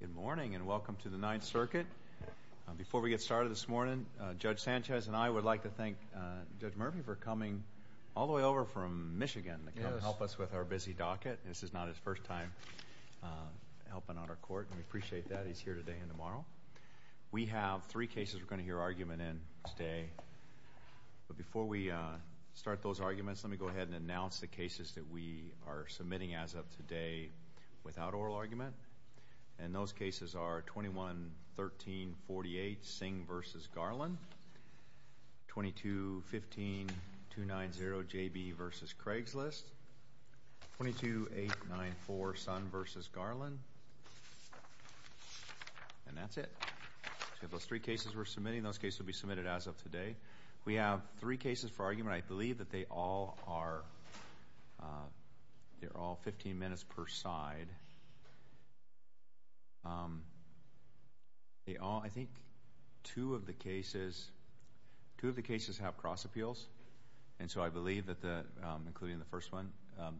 Good morning, and welcome to the Ninth Circuit. Before we get started this morning, Judge Sanchez and I would like to thank Judge Murphy for coming all the way over from Michigan to come help us with our busy docket. This is not his first time helping on our court, and we appreciate that he's here today and tomorrow. We have three cases we're going to hear argument in today, but before we start those arguments, let me go ahead and announce the cases that we are submitting as of today without oral argument. And those cases are 21-13-48, Singh v. Garland, 22-15-290-JB v. Craigslist, 22-8-9-4, Sunn v. Garland. And that's it. So we have those three cases we're submitting, and those cases will be submitted as of today. We have three cases for argument. I believe that they all are 15 minutes per side. I think two of the cases have cross appeals, including the first one.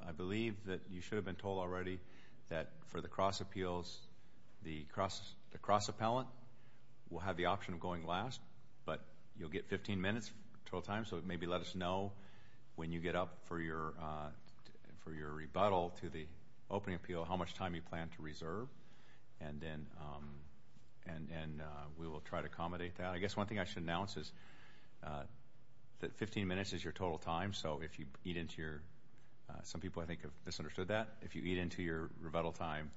I believe that you should have been told already that for the cross appeals, the cross appellant will have the option of going last, but you'll get 15 minutes total time. So maybe let us know when you get up for your rebuttal to the opening appeal how much time you plan to reserve, and then we will try to accommodate that. I guess one thing I should announce is that 15 minutes is your total time, so if you eat into your—some people I think have misunderstood that—if you eat into your rebuttal time,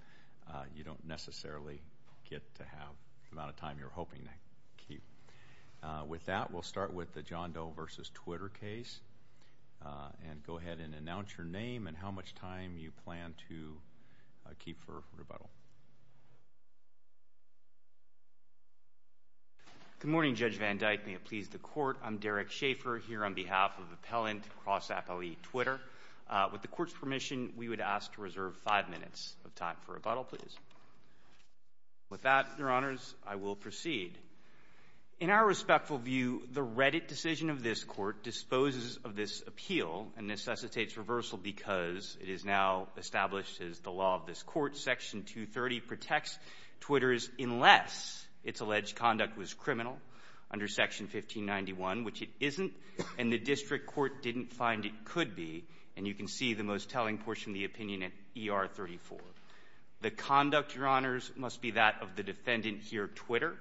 you don't necessarily get to have the amount of time you're hoping to keep. With that, we'll start with the John Doe v. Twitter case, and go ahead and announce your name and how much time you plan to keep for rebuttal. Good morning, Judge Van Dyke. May it please the Court. I'm Derek Schaffer here on behalf of Appellant Cross Appellee Twitter. With the Court's permission, we would ask to reserve five minutes of time for rebuttal, please. With that, Your Honors, I will proceed. In our respectful view, the Reddit decision of this Court disposes of this appeal and necessitates reversal because it is now established as the law of this Court. Section 230 protects Twitter's unless its alleged conduct was criminal under Section 1591, which it isn't, and the District Court didn't find it could be. And you can see the most telling portion of the opinion in ER 34. The conduct, Your Honors, must be that of the defendant here, Twitter,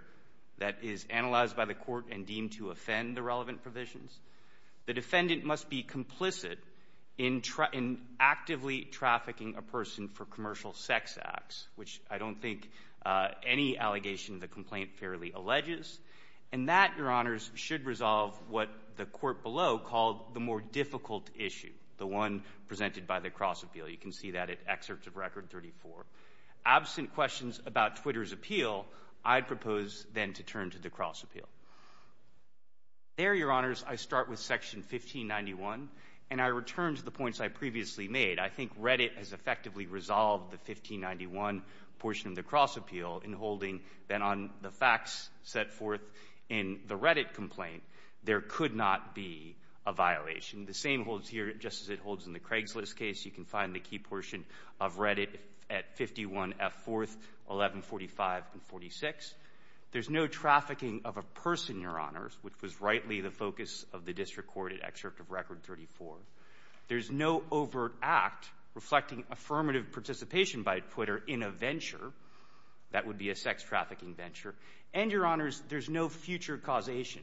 that is analyzed by the Court and deemed to offend the relevant provisions. The defendant must be complicit in actively trafficking a person for commercial sex acts, which I don't think any allegation of the complaint fairly alleges. And that, Your Honors, should resolve what the Court below called the more difficult issue, the one presented by the cross appeal. You can see that in excerpt of Record 34. Absent questions about Twitter's appeal, I propose then to turn to the cross appeal. There, Your Honors, I start with Section 1591, and I return to the points I previously made. I think Reddit has effectively resolved the 1591 portion of the cross appeal in holding that on the facts set forth in the Reddit complaint, there could not be a violation. The same holds here just as it holds in the Craigslist case. You can find the key portion of Reddit at 51F4, 1145 and 46. There's no trafficking of a person, Your Honors, which was rightly the focus of the District Court at excerpt of Record 34. There's no overt act reflecting affirmative participation by Twitter in a venture that would be a sex trafficking venture. And Your Honors, there's no future causation.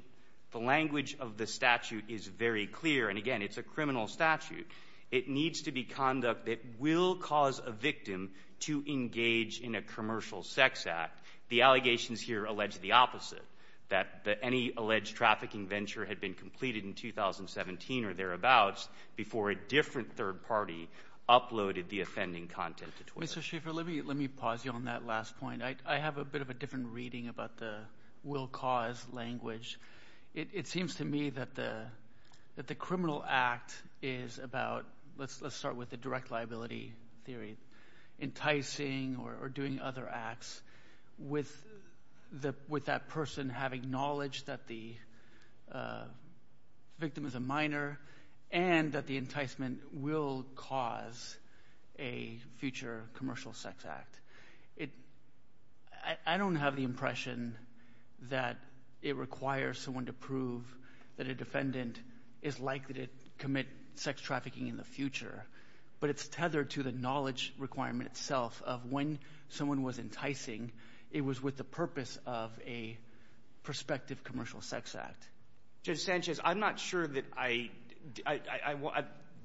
The language of the statute is very clear, and again, it's a criminal statute. It needs to be conduct that will cause a victim to engage in a commercial sex act. The allegations here allege the opposite, that any alleged trafficking venture had been completed in 2017 or thereabouts before a different third party uploaded the offending content to Twitter. Mr. Schaffer, let me pause you on that last point. I have a bit of a different reading about the will cause language. It seems to me that the criminal act is about, let's start with the direct liability theory, enticing or doing other acts with that person having knowledge that the victim is a minor and that the enticement will cause a future commercial sex act. I don't have the impression that it requires someone to prove that a defendant is likely to commit sex trafficking in the future, but it's tethered to the knowledge requirement itself of when someone was enticing, it was with the purpose of a prospective commercial sex act. Judge Sanchez, I'm not sure that I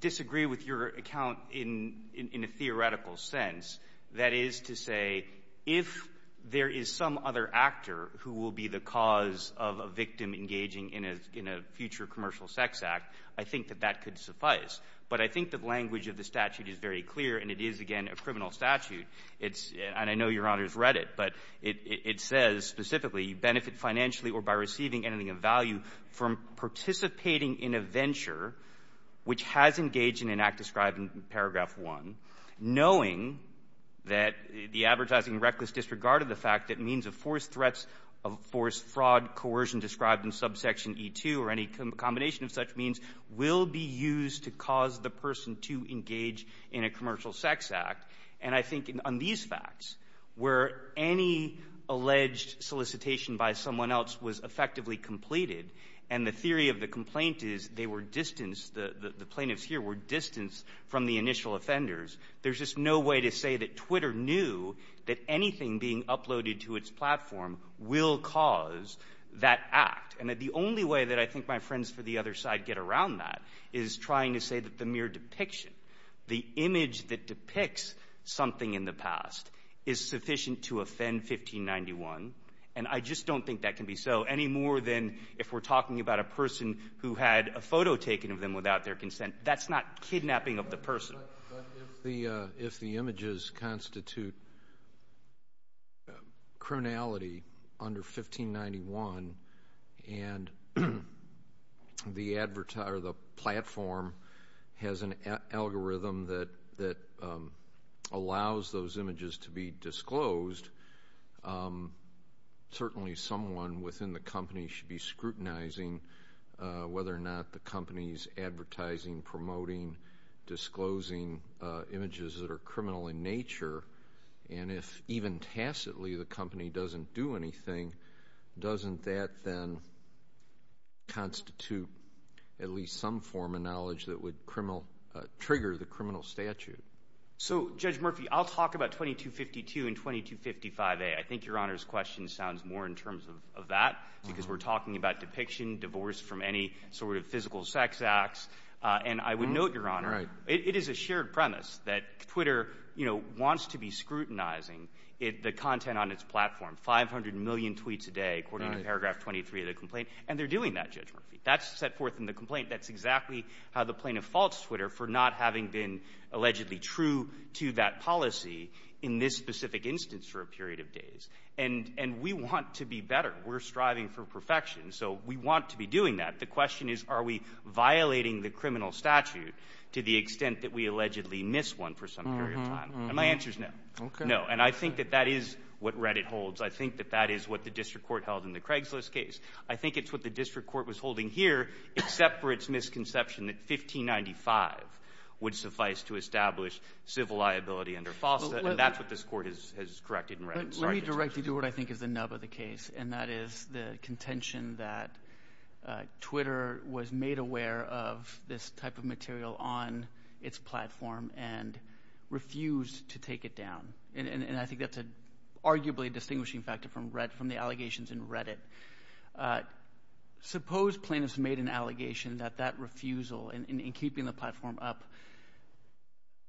disagree with your account in a theoretical sense. That is to say, if there is some other actor who will be the cause of a victim engaging in a future commercial sex act, I think that that could suffice. But I think the language of the statute is very clear, and it is, again, a criminal statute. And I know Your Honor's read it, but it says specifically, you benefit financially or by receiving anything of value from participating in a venture which has engaged in an act described in paragraph one, knowing that the advertising reckless disregard of the fact that means of force threats, of force fraud, coercion described in subsection E2 or any combination of such means will be used to cause the person to engage in a commercial sex act. And I think on these facts, where any alleged solicitation by someone else was effectively completed and the theory of the complaint is they were distanced, the plaintiffs here were distanced from the initial offenders, there's just no way to say that Twitter knew that anything being uploaded to its platform will cause that act. And that the only way that I think my friends for the other side get around that is trying to say that the mere depiction, the image that depicts something in the past is sufficient to offend 1591. And I just don't think that can be so, any more than if we're talking about a person who had a photo taken of them without their consent. That's not kidnapping of the person. But if the images constitute criminality under 1591 and the platform has an algorithm that allows those images to be disclosed, certainly someone within the company should be scrutinizing whether or not the company is advertising, promoting, disclosing images that are criminal in nature. And if even tacitly the company doesn't do anything, doesn't that then constitute at least some form of knowledge that would trigger the criminal statute? So Judge Murphy, I'll talk about 2252 and 2255A. I think Your Honor's question sounds more in terms of that because we're talking about depiction, divorce from any sort of physical sex acts. And I would note, Your Honor, it is a shared premise that Twitter wants to be scrutinizing the content on its platform, 500 million tweets a day according to paragraph 23 of the complaint. And they're doing that, Judge Murphy. That's set forth in the complaint. That's exactly how the plaintiff faults Twitter for not having been allegedly true to that case. And we want to be better. We're striving for perfection. So we want to be doing that. The question is, are we violating the criminal statute to the extent that we allegedly miss one for some period of time? And my answer is no. Okay. No. And I think that that is what Reddit holds. I think that that is what the district court held in the Craigslist case. I think it's what the district court was holding here, except for its misconception court has corrected in Reddit. Let me directly do what I think is the nub of the case. And that is the contention that Twitter was made aware of this type of material on its platform and refused to take it down. And I think that's arguably a distinguishing factor from the allegations in Reddit. Suppose plaintiffs made an allegation that that refusal in keeping the platform up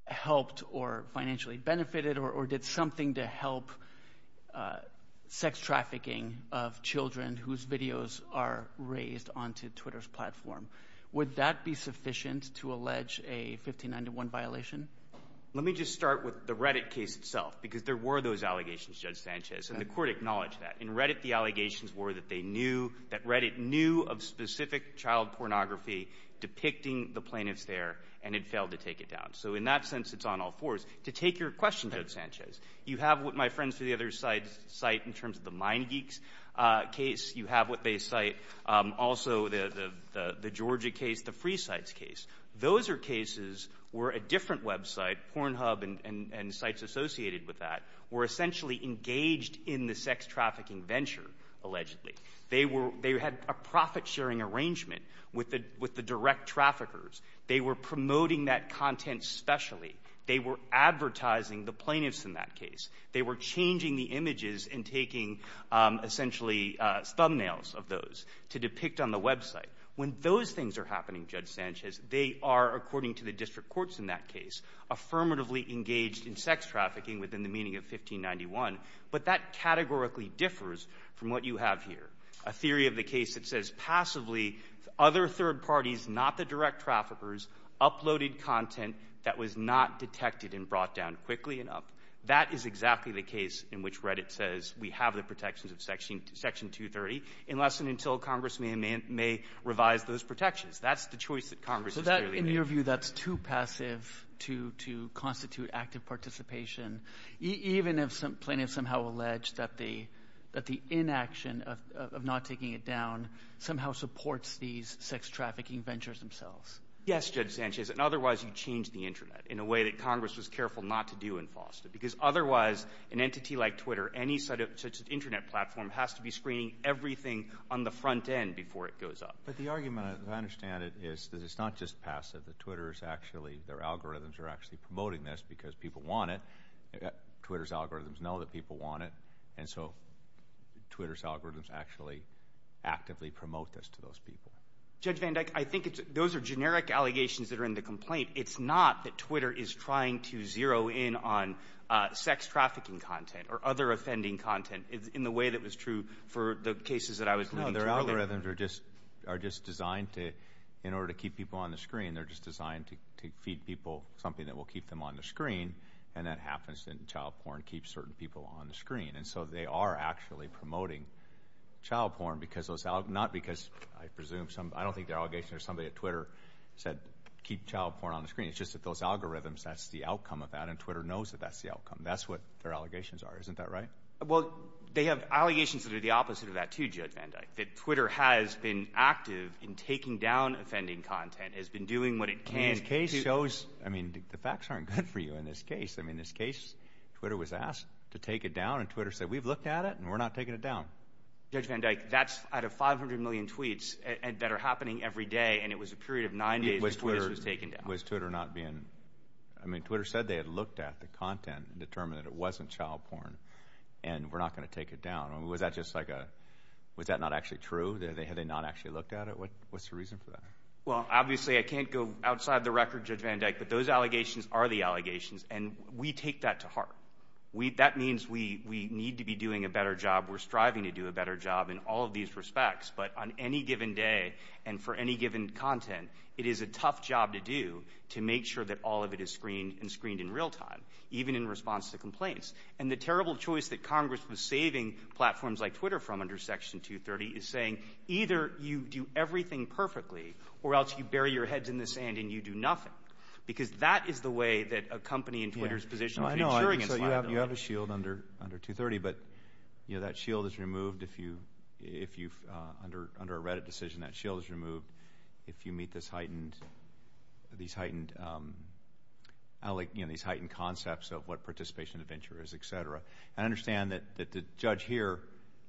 helped or financially benefited or did something to help sex trafficking of children whose videos are raised onto Twitter's platform. Would that be sufficient to allege a 59 to 1 violation? Let me just start with the Reddit case itself, because there were those allegations, Judge Sanchez, and the court acknowledged that. In Reddit, the allegations were that they knew, that Reddit knew of specific child pornography depicting the plaintiffs there and it failed to take it down. So in that sense, it's on all fours. To take your question, Judge Sanchez, you have what my friends from the other sites cite in terms of the Mind Geeks case, you have what they cite, also the Georgia case, the Free Sites case. Those are cases where a different website, Pornhub and sites associated with that, were essentially engaged in the sex trafficking venture, allegedly. They had a profit-sharing arrangement with the direct traffickers. They were promoting that content specially. They were advertising the plaintiffs in that case. They were changing the images and taking, essentially, thumbnails of those to depict on the website. When those things are happening, Judge Sanchez, they are, according to the district courts in that case, affirmatively engaged in sex trafficking within the meaning of 1591. But that categorically differs from what you have here, a theory of the case that says passively, other third parties, not the direct traffickers, uploaded content that was not detected and brought down quickly enough. That is exactly the case in which Reddit says we have the protections of Section 230, unless and until Congress may revise those protections. That's the choice that Congress is clearly making. So in your view, that's too passive to constitute active participation, even if plaintiffs somehow allege that the inaction of not taking it down somehow supports these sex trafficking ventures themselves? Yes, Judge Sanchez, and otherwise you change the Internet in a way that Congress was careful not to do in Foster. Because otherwise, an entity like Twitter, any such Internet platform, has to be screening everything on the front end before it goes up. But the argument, as I understand it, is that it's not just passive, that Twitter is actually, their algorithms are actually promoting this because people want it. Twitter's algorithms know that people want it, and so Twitter's algorithms actually actively promote this to those people. Judge Van Dyke, I think those are generic allegations that are in the complaint. It's not that Twitter is trying to zero in on sex trafficking content or other offending content in the way that was true for the cases that I was looking at earlier. No, their algorithms are just designed to, in order to keep people on the screen, they're just designed to feed people something that will keep them on the screen, and that happens in child porn, keeps certain people on the screen. And so they are actually promoting child porn because those, not because, I presume some, I don't think their allegations, or somebody at Twitter said, keep child porn on the screen. It's just that those algorithms, that's the outcome of that, and Twitter knows that that's the outcome. That's what their allegations are. Isn't that right? Well, they have allegations that are the opposite of that, too, Judge Van Dyke, that Twitter has been active in taking down offending content, has been doing what it can to... I mean, this case shows, I mean, the facts aren't good for you in this case. I mean, this case, Twitter was asked to take it down, and Twitter said, we've looked at it, and we're not taking it down. Judge Van Dyke, that's out of 500 million tweets that are happening every day, and it was a period of nine days that Twitter was taking down. Was Twitter not being... I mean, Twitter said they had looked at the content and determined that it wasn't child porn, and we're not going to take it down. Was that just like a... Was that not actually true? Had they not actually looked at it? What's the reason for that? Well, obviously, I can't go outside the record, Judge Van Dyke, but those allegations are the allegations, and we take that to heart. That means we need to be doing a better job. We're striving to do a better job in all of these respects, but on any given day and for any given content, it is a tough job to do to make sure that all of it is screened and screened in real time, even in response to complaints. And the terrible choice that Congress was saving platforms like Twitter from under Section 230 is saying, either you do everything perfectly, or else you bury your heads in the sand and you do nothing. Why? Because that is the way that a company in Twitter's position is ensuring its liability. I know. So you have a shield under 230, but that shield is removed if you... Under a Reddit decision, that shield is removed if you meet these heightened concepts of what participation and adventure is, et cetera, and understand that the judge here...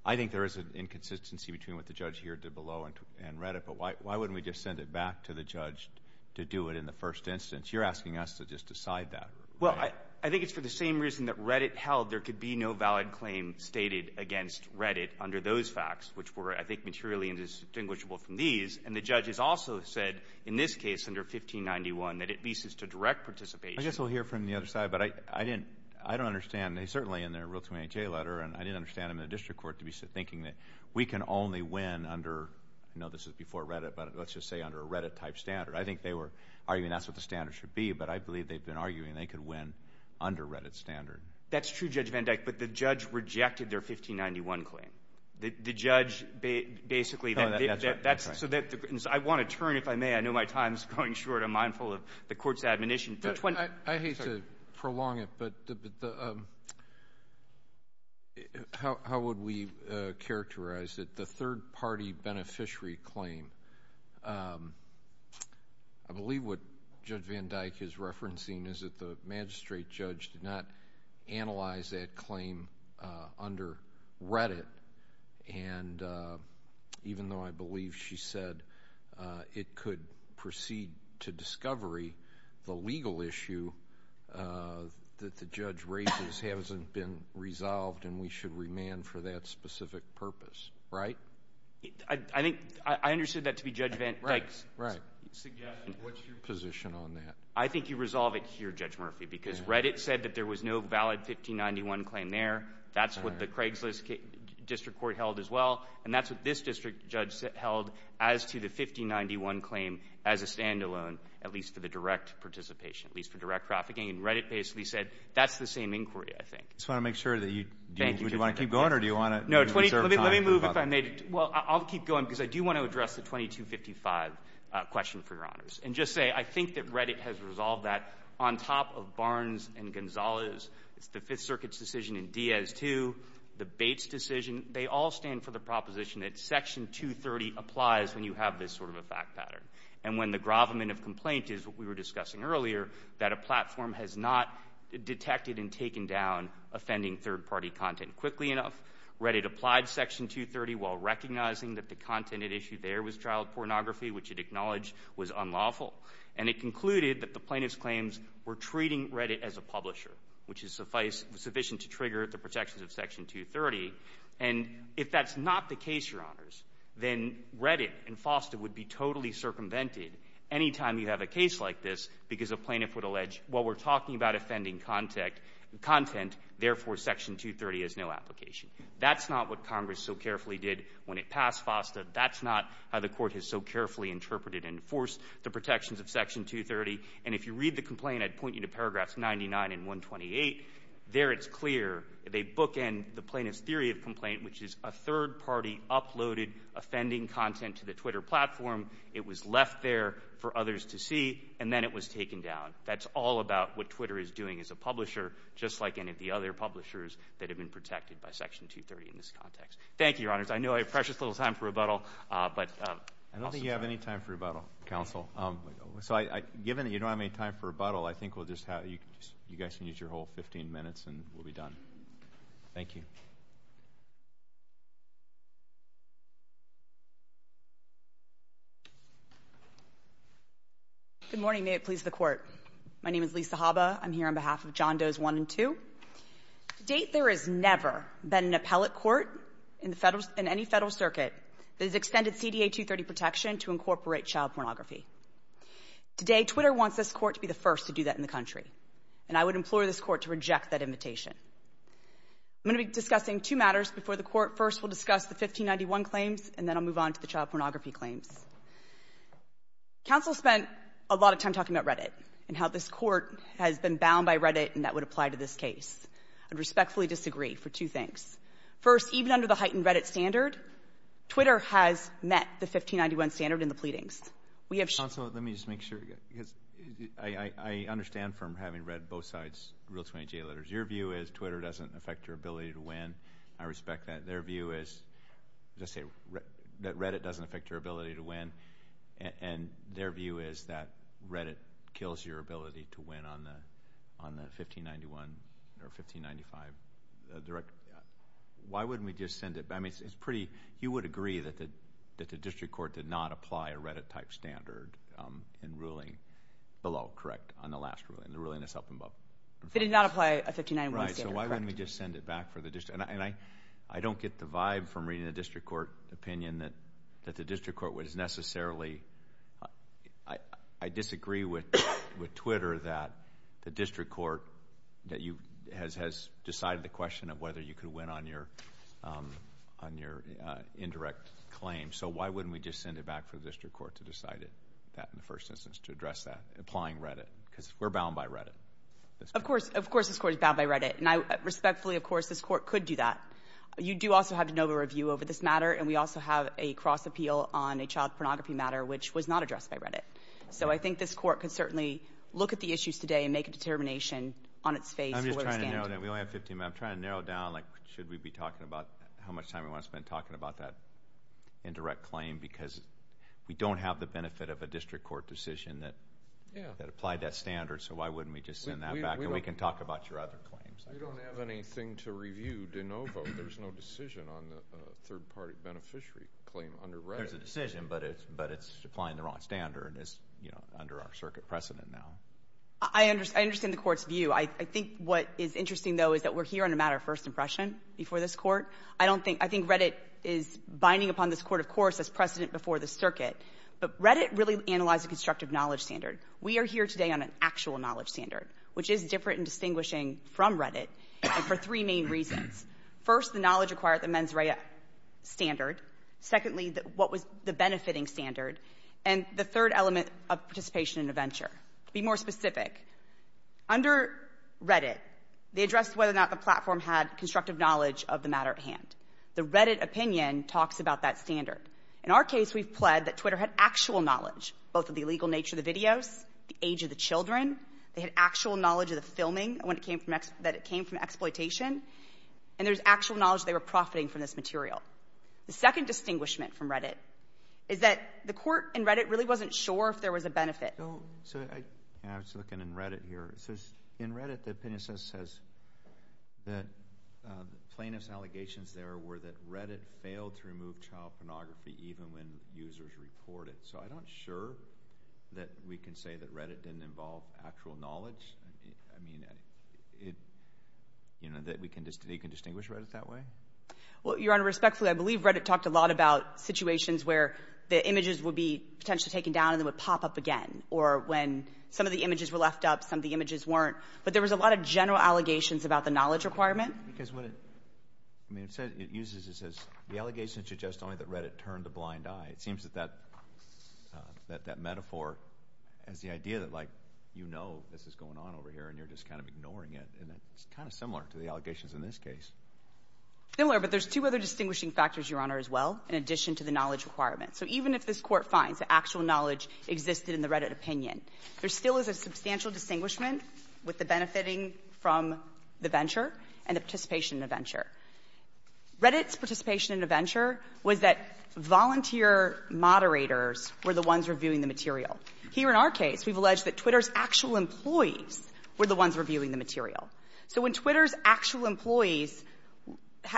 I think there is an inconsistency between what the judge here did below and Reddit, but why wouldn't we just send it back to the judge to do it in the first instance? You're asking us to just decide that. Well, I think it's for the same reason that Reddit held there could be no valid claim stated against Reddit under those facts, which were, I think, materially indistinguishable from these. And the judge has also said, in this case, under 1591, that it leases to direct participation. I guess we'll hear from the other side, but I didn't... I don't understand. They certainly, in their Rule 28J letter, and I didn't understand them in the district we can only win under, I know this is before Reddit, but let's just say under a Reddit-type standard. I think they were arguing that's what the standard should be, but I believe they've been arguing they could win under Reddit's standard. That's true, Judge Van Dyke, but the judge rejected their 1591 claim. The judge basically... That's right. That's right. I want to turn, if I may, I know my time is going short, I'm mindful of the court's admonition. I hate to prolong it, but how would we characterize it? The third-party beneficiary claim, I believe what Judge Van Dyke is referencing is that the magistrate judge did not analyze that claim under Reddit, and even though I believe she said it could proceed to discovery, the legal issue that the judge raises hasn't been resolved and we should remand for that specific purpose, right? I understood that to be Judge Van Dyke's suggestion. Right, right. What's your position on that? I think you resolve it here, Judge Murphy, because Reddit said that there was no valid 1591 claim there. That's what the Craigslist district court held as well, and that's what this district judge held as to the 1591 claim as a standalone, at least for the direct participation, at least for direct trafficking, and Reddit basically said that's the same inquiry, I think. I just want to make sure that you... Thank you, Judge Van Dyke. Do you want to keep going or do you want to reserve time for... No, let me move if I may. Well, I'll keep going because I do want to address the 2255 question, for your honors, and just say I think that Reddit has resolved that on top of Barnes and Gonzales, it's the Fifth Circuit's decision in Diaz 2, the Bates decision, they all stand for the proposition that Section 230 applies when you have this sort of a fact pattern, and when the gravamen of complaint is what we were discussing earlier, that a platform has not detected and taken down offending third-party content. Quickly enough, Reddit applied Section 230 while recognizing that the content at issue there was child pornography, which it acknowledged was unlawful, and it concluded that the plaintiff's claims were treating Reddit as a publisher, which is sufficient to trigger the protections of Section 230. And if that's not the case, your honors, then Reddit and FOSTA would be totally circumvented any time you have a case like this because a plaintiff would allege, well, we're talking about offending content, therefore, Section 230 has no application. That's not what Congress so carefully did when it passed FOSTA. That's not how the court has so carefully interpreted and enforced the protections of Section 230. And if you read the complaint, I'd point you to paragraphs 99 and 128. There it's clear. They bookend the plaintiff's theory of complaint, which is a third-party uploaded offending content to the Twitter platform. It was left there for others to see, and then it was taken down. That's all about what Twitter is doing as a publisher, just like any of the other publishers that have been protected by Section 230 in this context. Thank you, your honors. I know I have precious little time for rebuttal. But— I don't think you have any time for rebuttal, counsel. So I—given that you don't have any time for rebuttal, I think we'll just have—you guys can use your whole 15 minutes, and we'll be done. Thank you. Good morning. May it please the Court. My name is Lisa Haba. I'm here on behalf of John Does I and II. To date, there has never been an appellate court in the federal—in any federal circuit that has extended CDA 230 protection to incorporate child pornography. Today Twitter wants this court to be the first to do that in the country. And I would implore this court to reject that invitation. I'm going to be discussing two matters before the court. First we'll discuss the 1591 claims, and then I'll move on to the child pornography claims. Counsel spent a lot of time talking about Reddit and how this court has been bound by Reddit and that would apply to this case. I respectfully disagree for two things. First, even under the heightened Reddit standard, Twitter has met the 1591 standard in the pleadings. We have— I mean, having read both sides' Rule 28J letters, your view is Twitter doesn't affect your ability to win. I respect that. Their view is—let's say that Reddit doesn't affect your ability to win, and their view is that Reddit kills your ability to win on the 1591 or 1595 directive. Why wouldn't we just send it—I mean, it's pretty—you would agree that the District Court did not apply a Reddit-type standard in ruling below, correct, on the last ruling, the ruling that's up above. They did not apply a 1591 standard, correct. Right. So why wouldn't we just send it back for the District—and I don't get the vibe from reading the District Court opinion that the District Court would necessarily—I disagree with Twitter that the District Court that you—has decided the question of whether you could win on your indirect claim. So why wouldn't we just send it back for the District Court to decide that in the first instance to address that, applying Reddit, because we're bound by Reddit. Of course. Of course this Court is bound by Reddit. And I respectfully, of course, this Court could do that. You do also have de novo review over this matter, and we also have a cross-appeal on a child pornography matter, which was not addressed by Reddit. So I think this Court could certainly look at the issues today and make a determination on its face— I'm just trying to narrow it down. We only have 15 minutes. I'm trying to narrow it down, like, should we be talking about how much time we want to spend talking about that indirect claim, because we don't have the benefit of a District Court decision that— Yeah. —that applied that standard. So why wouldn't we just send that back? And we can talk about your other claims. We don't have anything to review de novo. There's no decision on the third-party beneficiary claim under Reddit. There's a decision, but it's—but it's applying the wrong standard. It's, you know, under our circuit precedent now. I understand the Court's view. I think what is interesting, though, is that we're here on a matter of first impression before this Court. I don't think—I think Reddit is binding upon this Court, of course, as precedent I don't think—I think Reddit is binding upon this Court, of course, as precedent before the circuit. constructive knowledge standard. We are here today on an actual knowledge standard, which is different in distinguishing from Reddit and for three main reasons. First, the knowledge acquired at the mens rea standard. Secondly, what was the benefiting standard. And the third element of participation in a venture. To be more specific, under Reddit, they addressed whether or not the platform had constructive knowledge of the matter at hand. The Reddit opinion talks about that standard. In our case, we've pled that Twitter had actual knowledge, both of the illegal nature of the videos, the age of the children, they had actual knowledge of the filming, that it came from exploitation, and there's actual knowledge they were profiting from this material. The second distinguishment from Reddit is that the court in Reddit really wasn't sure if there was a benefit. So I was looking in Reddit here. In Reddit, the opinion says that plaintiff's allegations there were that Reddit failed to remove child pornography even when users reported. So I'm not sure that we can say that Reddit didn't involve actual knowledge. I mean, it, you know, that we can distinguish Reddit that way? Well, Your Honor, respectfully, I believe Reddit talked a lot about situations where the images would be potentially taken down and then would pop up again. Or when some of the images were left up, some of the images weren't. But there was a lot of general allegations about the knowledge requirement. Because what it, I mean, it says, it uses, it says, the allegations suggest only that Reddit turned a blind eye. It seems that that, that metaphor is the idea that, like, you know this is going on over here and you're just kind of ignoring it. And it's kind of similar to the allegations in this case. Similar, but there's two other distinguishing factors, Your Honor, as well, in addition to the knowledge requirement. So even if this court finds that actual knowledge existed in the Reddit opinion, there still is a substantial distinguishment with the benefiting from the venture and the participation in the venture. Reddit's participation in the venture was that volunteer moderators were the ones reviewing the material. Here in our case, we've alleged that Twitter's actual employees were the ones reviewing the material. So when Twitter's actual employees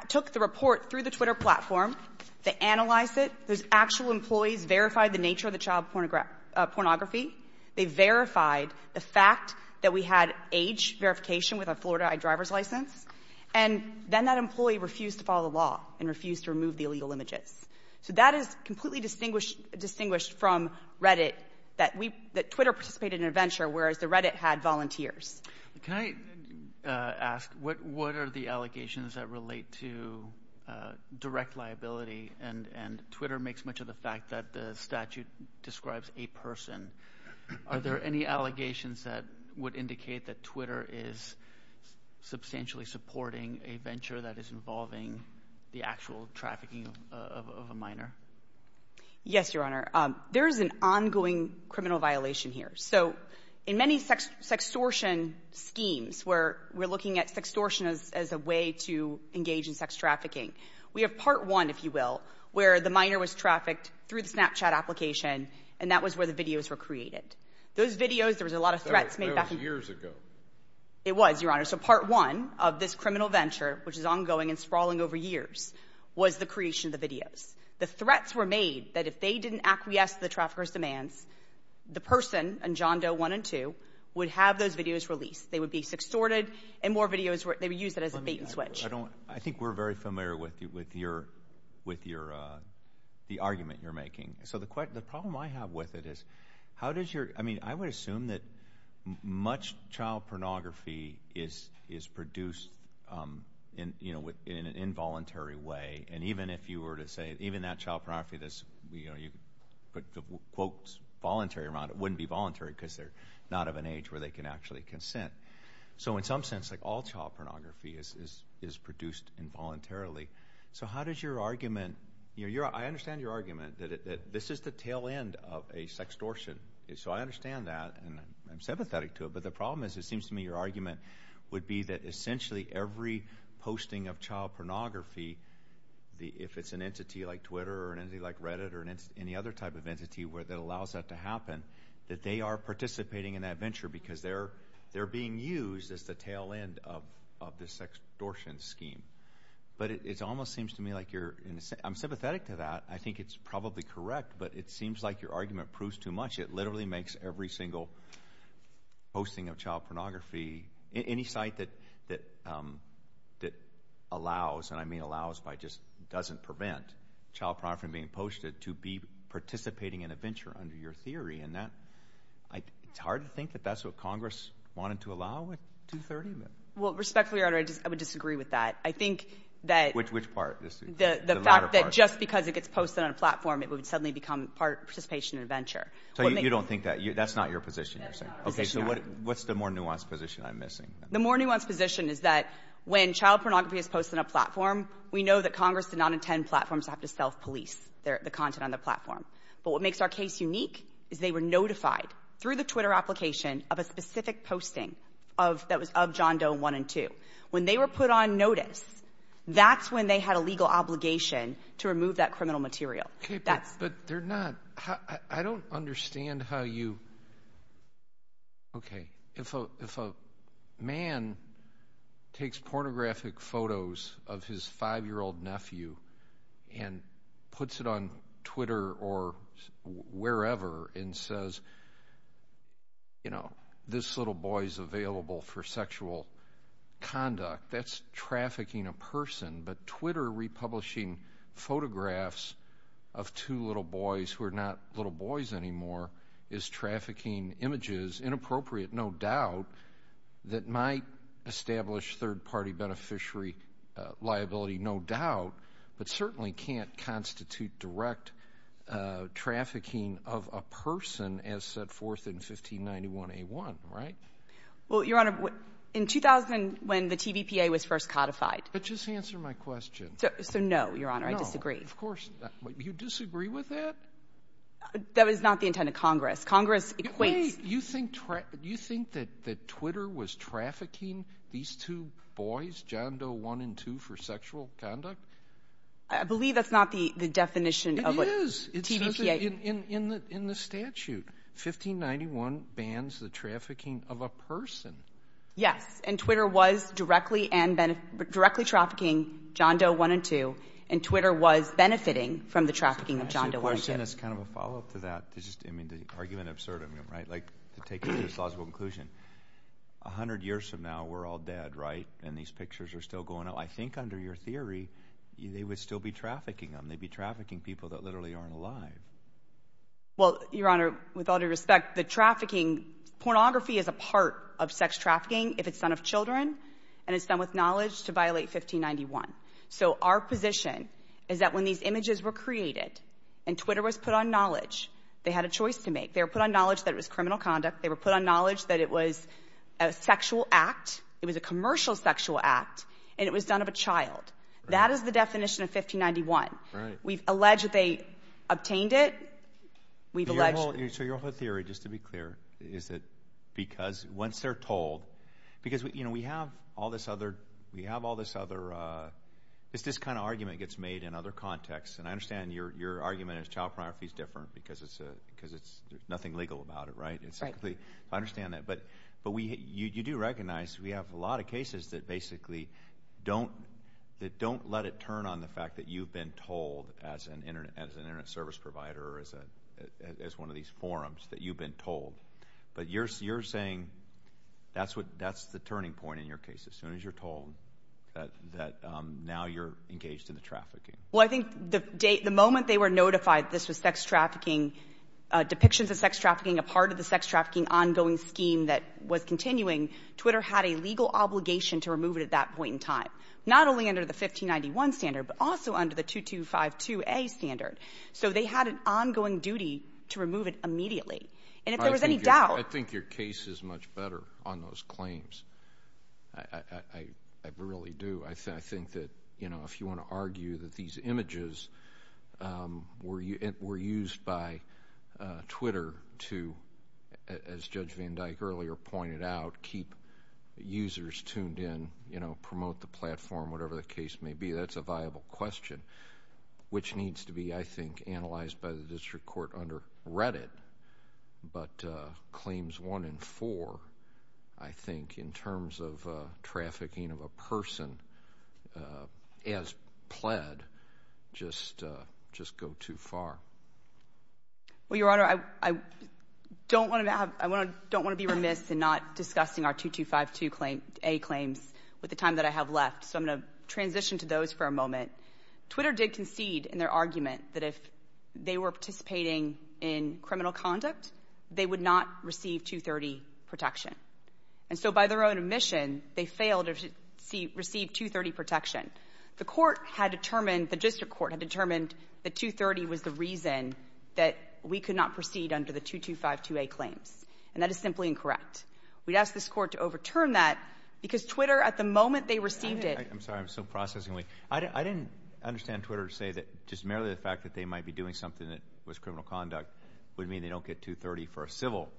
took the report through the Twitter platform to analyze it, those actual employees verified the nature of the child pornography, they verified the fact that we had age verification with a Florida driver's license, and then that employee refused to follow the law and refused to remove the illegal images. So that is completely distinguished from Reddit, that we, that Twitter participated in a venture, whereas the Reddit had volunteers. Can I ask, what are the allegations that relate to direct liability, and Twitter makes much of the fact that the statute describes a person. Are there any allegations that would indicate that Twitter is substantially supporting a venture that is involving the actual trafficking of a minor? Yes, Your Honor. There's an ongoing criminal violation here. So in many sex extortion schemes, where we're looking at sex extortion as a way to engage in sex trafficking, we have part one, if you will, where the minor was trafficked through the Snapchat application, and that was where the videos were created. Those videos, there was a lot of threats made back in the — That was years ago. It was, Your Honor. So part one of this criminal venture, which is ongoing and sprawling over years, was the creation of the videos. The threats were made that if they didn't acquiesce to the traffickers' demands, the person, and John Doe one and two, would have those videos released. They would be sex extorted, and more videos were — they would use it as a bait and switch. I think we're very familiar with your, with your, the argument you're making. So the problem I have with it is, how does your — I mean, I would assume that much of it is an involuntary way, and even if you were to say, even that child pornography that's, you know, you put the quotes voluntary around, it wouldn't be voluntary because they're not of an age where they can actually consent. So in some sense, like, all child pornography is produced involuntarily. So how does your argument — you know, I understand your argument that this is the tail end of a sex extortion. So I understand that, and I'm sympathetic to it, but the problem is, it seems to me your argument would be that essentially every posting of child pornography, if it's an entity like Twitter or an entity like Reddit or any other type of entity where that allows that to happen, that they are participating in that venture because they're being used as the tail end of this sex extortion scheme. But it almost seems to me like you're — I'm sympathetic to that. I think it's probably correct, but it seems like your argument proves too much. It literally makes every single posting of child pornography, any site that allows — and I mean allows by just doesn't prevent child pornography from being posted to be participating in a venture under your theory, and that — it's hard to think that that's what Congress wanted to allow a 230 event. Well, respectfully, Your Honor, I would disagree with that. I think that — Which part? The latter part. The fact that just because it gets posted on a platform, it would suddenly become part of participation in a venture. So you don't think that — that's not your position, you're saying? No, our position — Okay, so what's the more nuanced position I'm missing? The more nuanced position is that when child pornography is posted on a platform, we know that Congress did not intend platforms to have to self-police the content on the platform. But what makes our case unique is they were notified through the Twitter application of a specific posting of — that was of John Doe 1 and 2. When they were put on notice, that's when they had a legal obligation to remove that criminal material. That's — But they're not — I don't understand how you — okay, if a man takes pornographic photos of his five-year-old nephew and puts it on Twitter or wherever and says, you know, this little boy's available for sexual conduct, that's trafficking a person. But Twitter republishing photographs of two little boys who are not little boys anymore is trafficking images — inappropriate, no doubt — that might establish third-party beneficiary liability, no doubt, but certainly can't constitute direct trafficking of a person as set forth in 1591A1, right? Well, Your Honor, in 2000, when the TVPA was first codified — But just answer my question. So, no, Your Honor, I disagree. No, of course not. You disagree with that? That was not the intent of Congress. Congress equates — Wait. You think — you think that Twitter was trafficking these two boys, John Doe 1 and 2, for sexual conduct? I believe that's not the definition of what TVPA — It is. It says in the statute, 1591 bans the trafficking of a person. Yes. And Twitter was directly and — directly trafficking John Doe 1 and 2. And Twitter was benefiting from the trafficking of John Doe 1 and 2. I just have a question that's kind of a follow-up to that, to just — I mean, the argument absurd, I mean, right? Like, to take it to its logical conclusion, 100 years from now, we're all dead, right? And these pictures are still going out. I think under your theory, they would still be trafficking them. They'd be trafficking people that literally aren't alive. Well, Your Honor, with all due respect, the trafficking — pornography is a part of sex in front of children, and it's done with knowledge to violate 1591. So our position is that when these images were created and Twitter was put on knowledge, they had a choice to make. They were put on knowledge that it was criminal conduct. They were put on knowledge that it was a sexual act, it was a commercial sexual act, and it was done of a child. That is the definition of 1591. Right. We've alleged that they obtained it. We've alleged — So your whole theory, just to be clear, is that because once they're told — because, you know, we have all this other — we have all this other — it's this kind of argument gets made in other contexts, and I understand your argument is child pornography is different because it's a — because it's — there's nothing legal about it, right? Right. I understand that. But we — you do recognize we have a lot of cases that basically don't — that don't let it turn on the fact that you've been told as an Internet — as an Internet service provider or as a — as one of these forums that you've been told. But you're saying that's what — that's the turning point in your case, as soon as you're told that now you're engaged in the trafficking. Well, I think the moment they were notified this was sex trafficking — depictions of sex trafficking, a part of the sex trafficking ongoing scheme that was continuing, Twitter had a legal obligation to remove it at that point in time, not only under the 1591 standard, but also under the 2252A standard. So they had an ongoing duty to remove it immediately. And if there was any doubt — I think your case is much better on those claims. I really do. I think that, you know, if you want to argue that these images were used by Twitter to, as Judge Van Dyke earlier pointed out, keep users tuned in, you know, promote the platform, whatever the case may be, that's a viable question. Which needs to be, I think, analyzed by the district court under Reddit. But claims one and four, I think, in terms of trafficking of a person as pled, just go too far. Well, Your Honor, I don't want to be remiss in not discussing our 2252A claims with the time that I have left. So I'm going to transition to those for a moment. Twitter did concede in their argument that if they were participating in criminal conduct, they would not receive 230 protection. And so by their own admission, they failed to receive 230 protection. The court had determined — the district court had determined that 230 was the reason that we could not proceed under the 2252A claims. And that is simply incorrect. We'd ask this court to overturn that because Twitter, at the moment they received it — I'm sorry. I'm still processing. I didn't understand Twitter to say that just merely the fact that they might be doing something that was criminal conduct would mean they don't get 230 for a civil,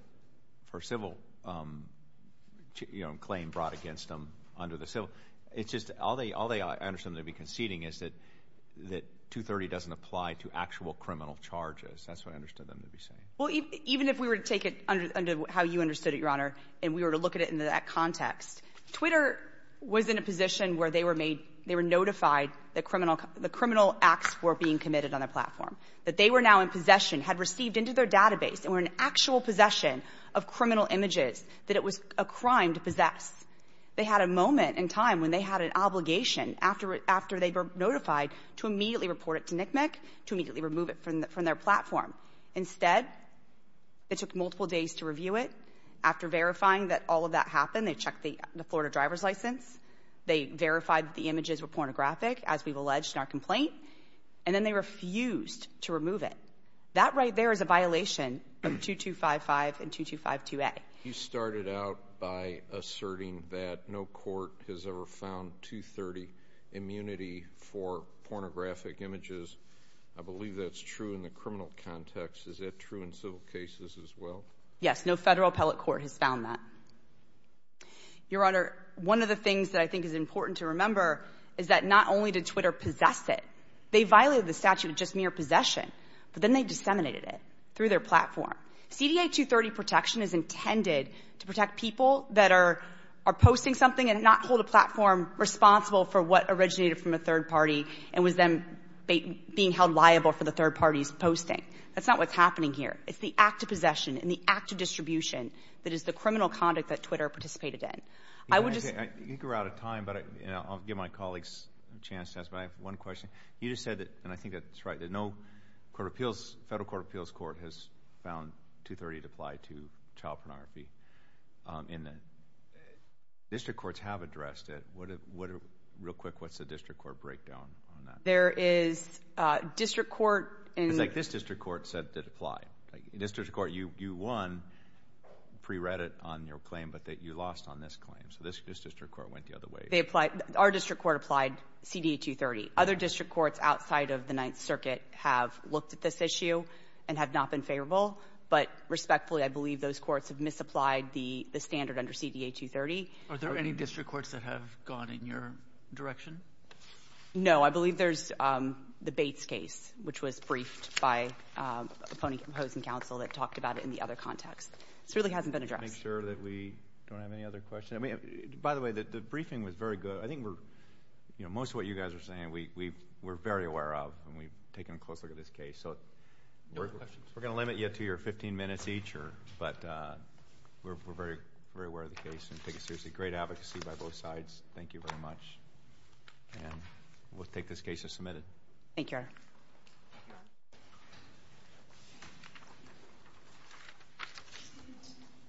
you know, claim brought against them under the civil — it's just — all I understood them to be conceding is that 230 doesn't apply to actual criminal charges. That's what I understood them to be saying. Well, even if we were to take it under how you understood it, Your Honor, and we were to look at it in that context, Twitter was in a position where they were made — they were notified that criminal — the criminal acts were being committed on their platform, that they were now in possession, had received into their database and were in actual possession of criminal images that it was a crime to possess. They had a moment in time when they had an obligation, after they were notified, to immediately report it to NCMEC, to immediately remove it from their platform. Instead, it took multiple days to review it. After verifying that all of that happened, they checked the Florida driver's license, they verified that the images were pornographic, as we've alleged in our complaint, and then they refused to remove it. That right there is a violation of 2255 and 2252A. You started out by asserting that no court has ever found 230 immunity for pornographic images. I believe that's true in the criminal context. Is that true in civil cases as well? Yes, no federal appellate court has found that. Your Honor, one of the things that I think is important to remember is that not only did Twitter possess it, they violated the statute of just mere possession, but then they disseminated it through their platform. CDA 230 protection is intended to protect people that are posting something and not hold a platform responsible for what originated from a third party and was then being held liable for the third party's posting. That's not what's happening here. It's the act of possession and the act of distribution that is the criminal conduct that Twitter participated in. You're out of time, but I'll give my colleagues a chance to ask one question. You just said, and I think that's right, that no federal court of appeals court has found 230 to apply to child pornography. District courts have addressed it. Real quick, what's the district court breakdown on that? There is district court. It's like this district court said it did apply. District court, you won, pre-read it on your claim, but you lost on this claim. So this district court went the other way. Our district court applied CDA 230. Other district courts outside of the Ninth Circuit have looked at this issue and have not been favorable, but respectfully, I believe those courts have misapplied the standard under CDA 230. Are there any district courts that have gone in your direction? No. I believe there's the Bates case, which was briefed by opposing counsel that talked about it in the other context. This really hasn't been addressed. Make sure that we don't have any other questions. By the way, the briefing was very good. I think most of what you guys are saying we're very aware of and we've taken a close look at this case. We're going to limit you to your 15 minutes each, but we're very aware of the case and take it seriously. Great advocacy by both sides. Thank you very much. We'll take this case as submitted. Thank you, Your Honor.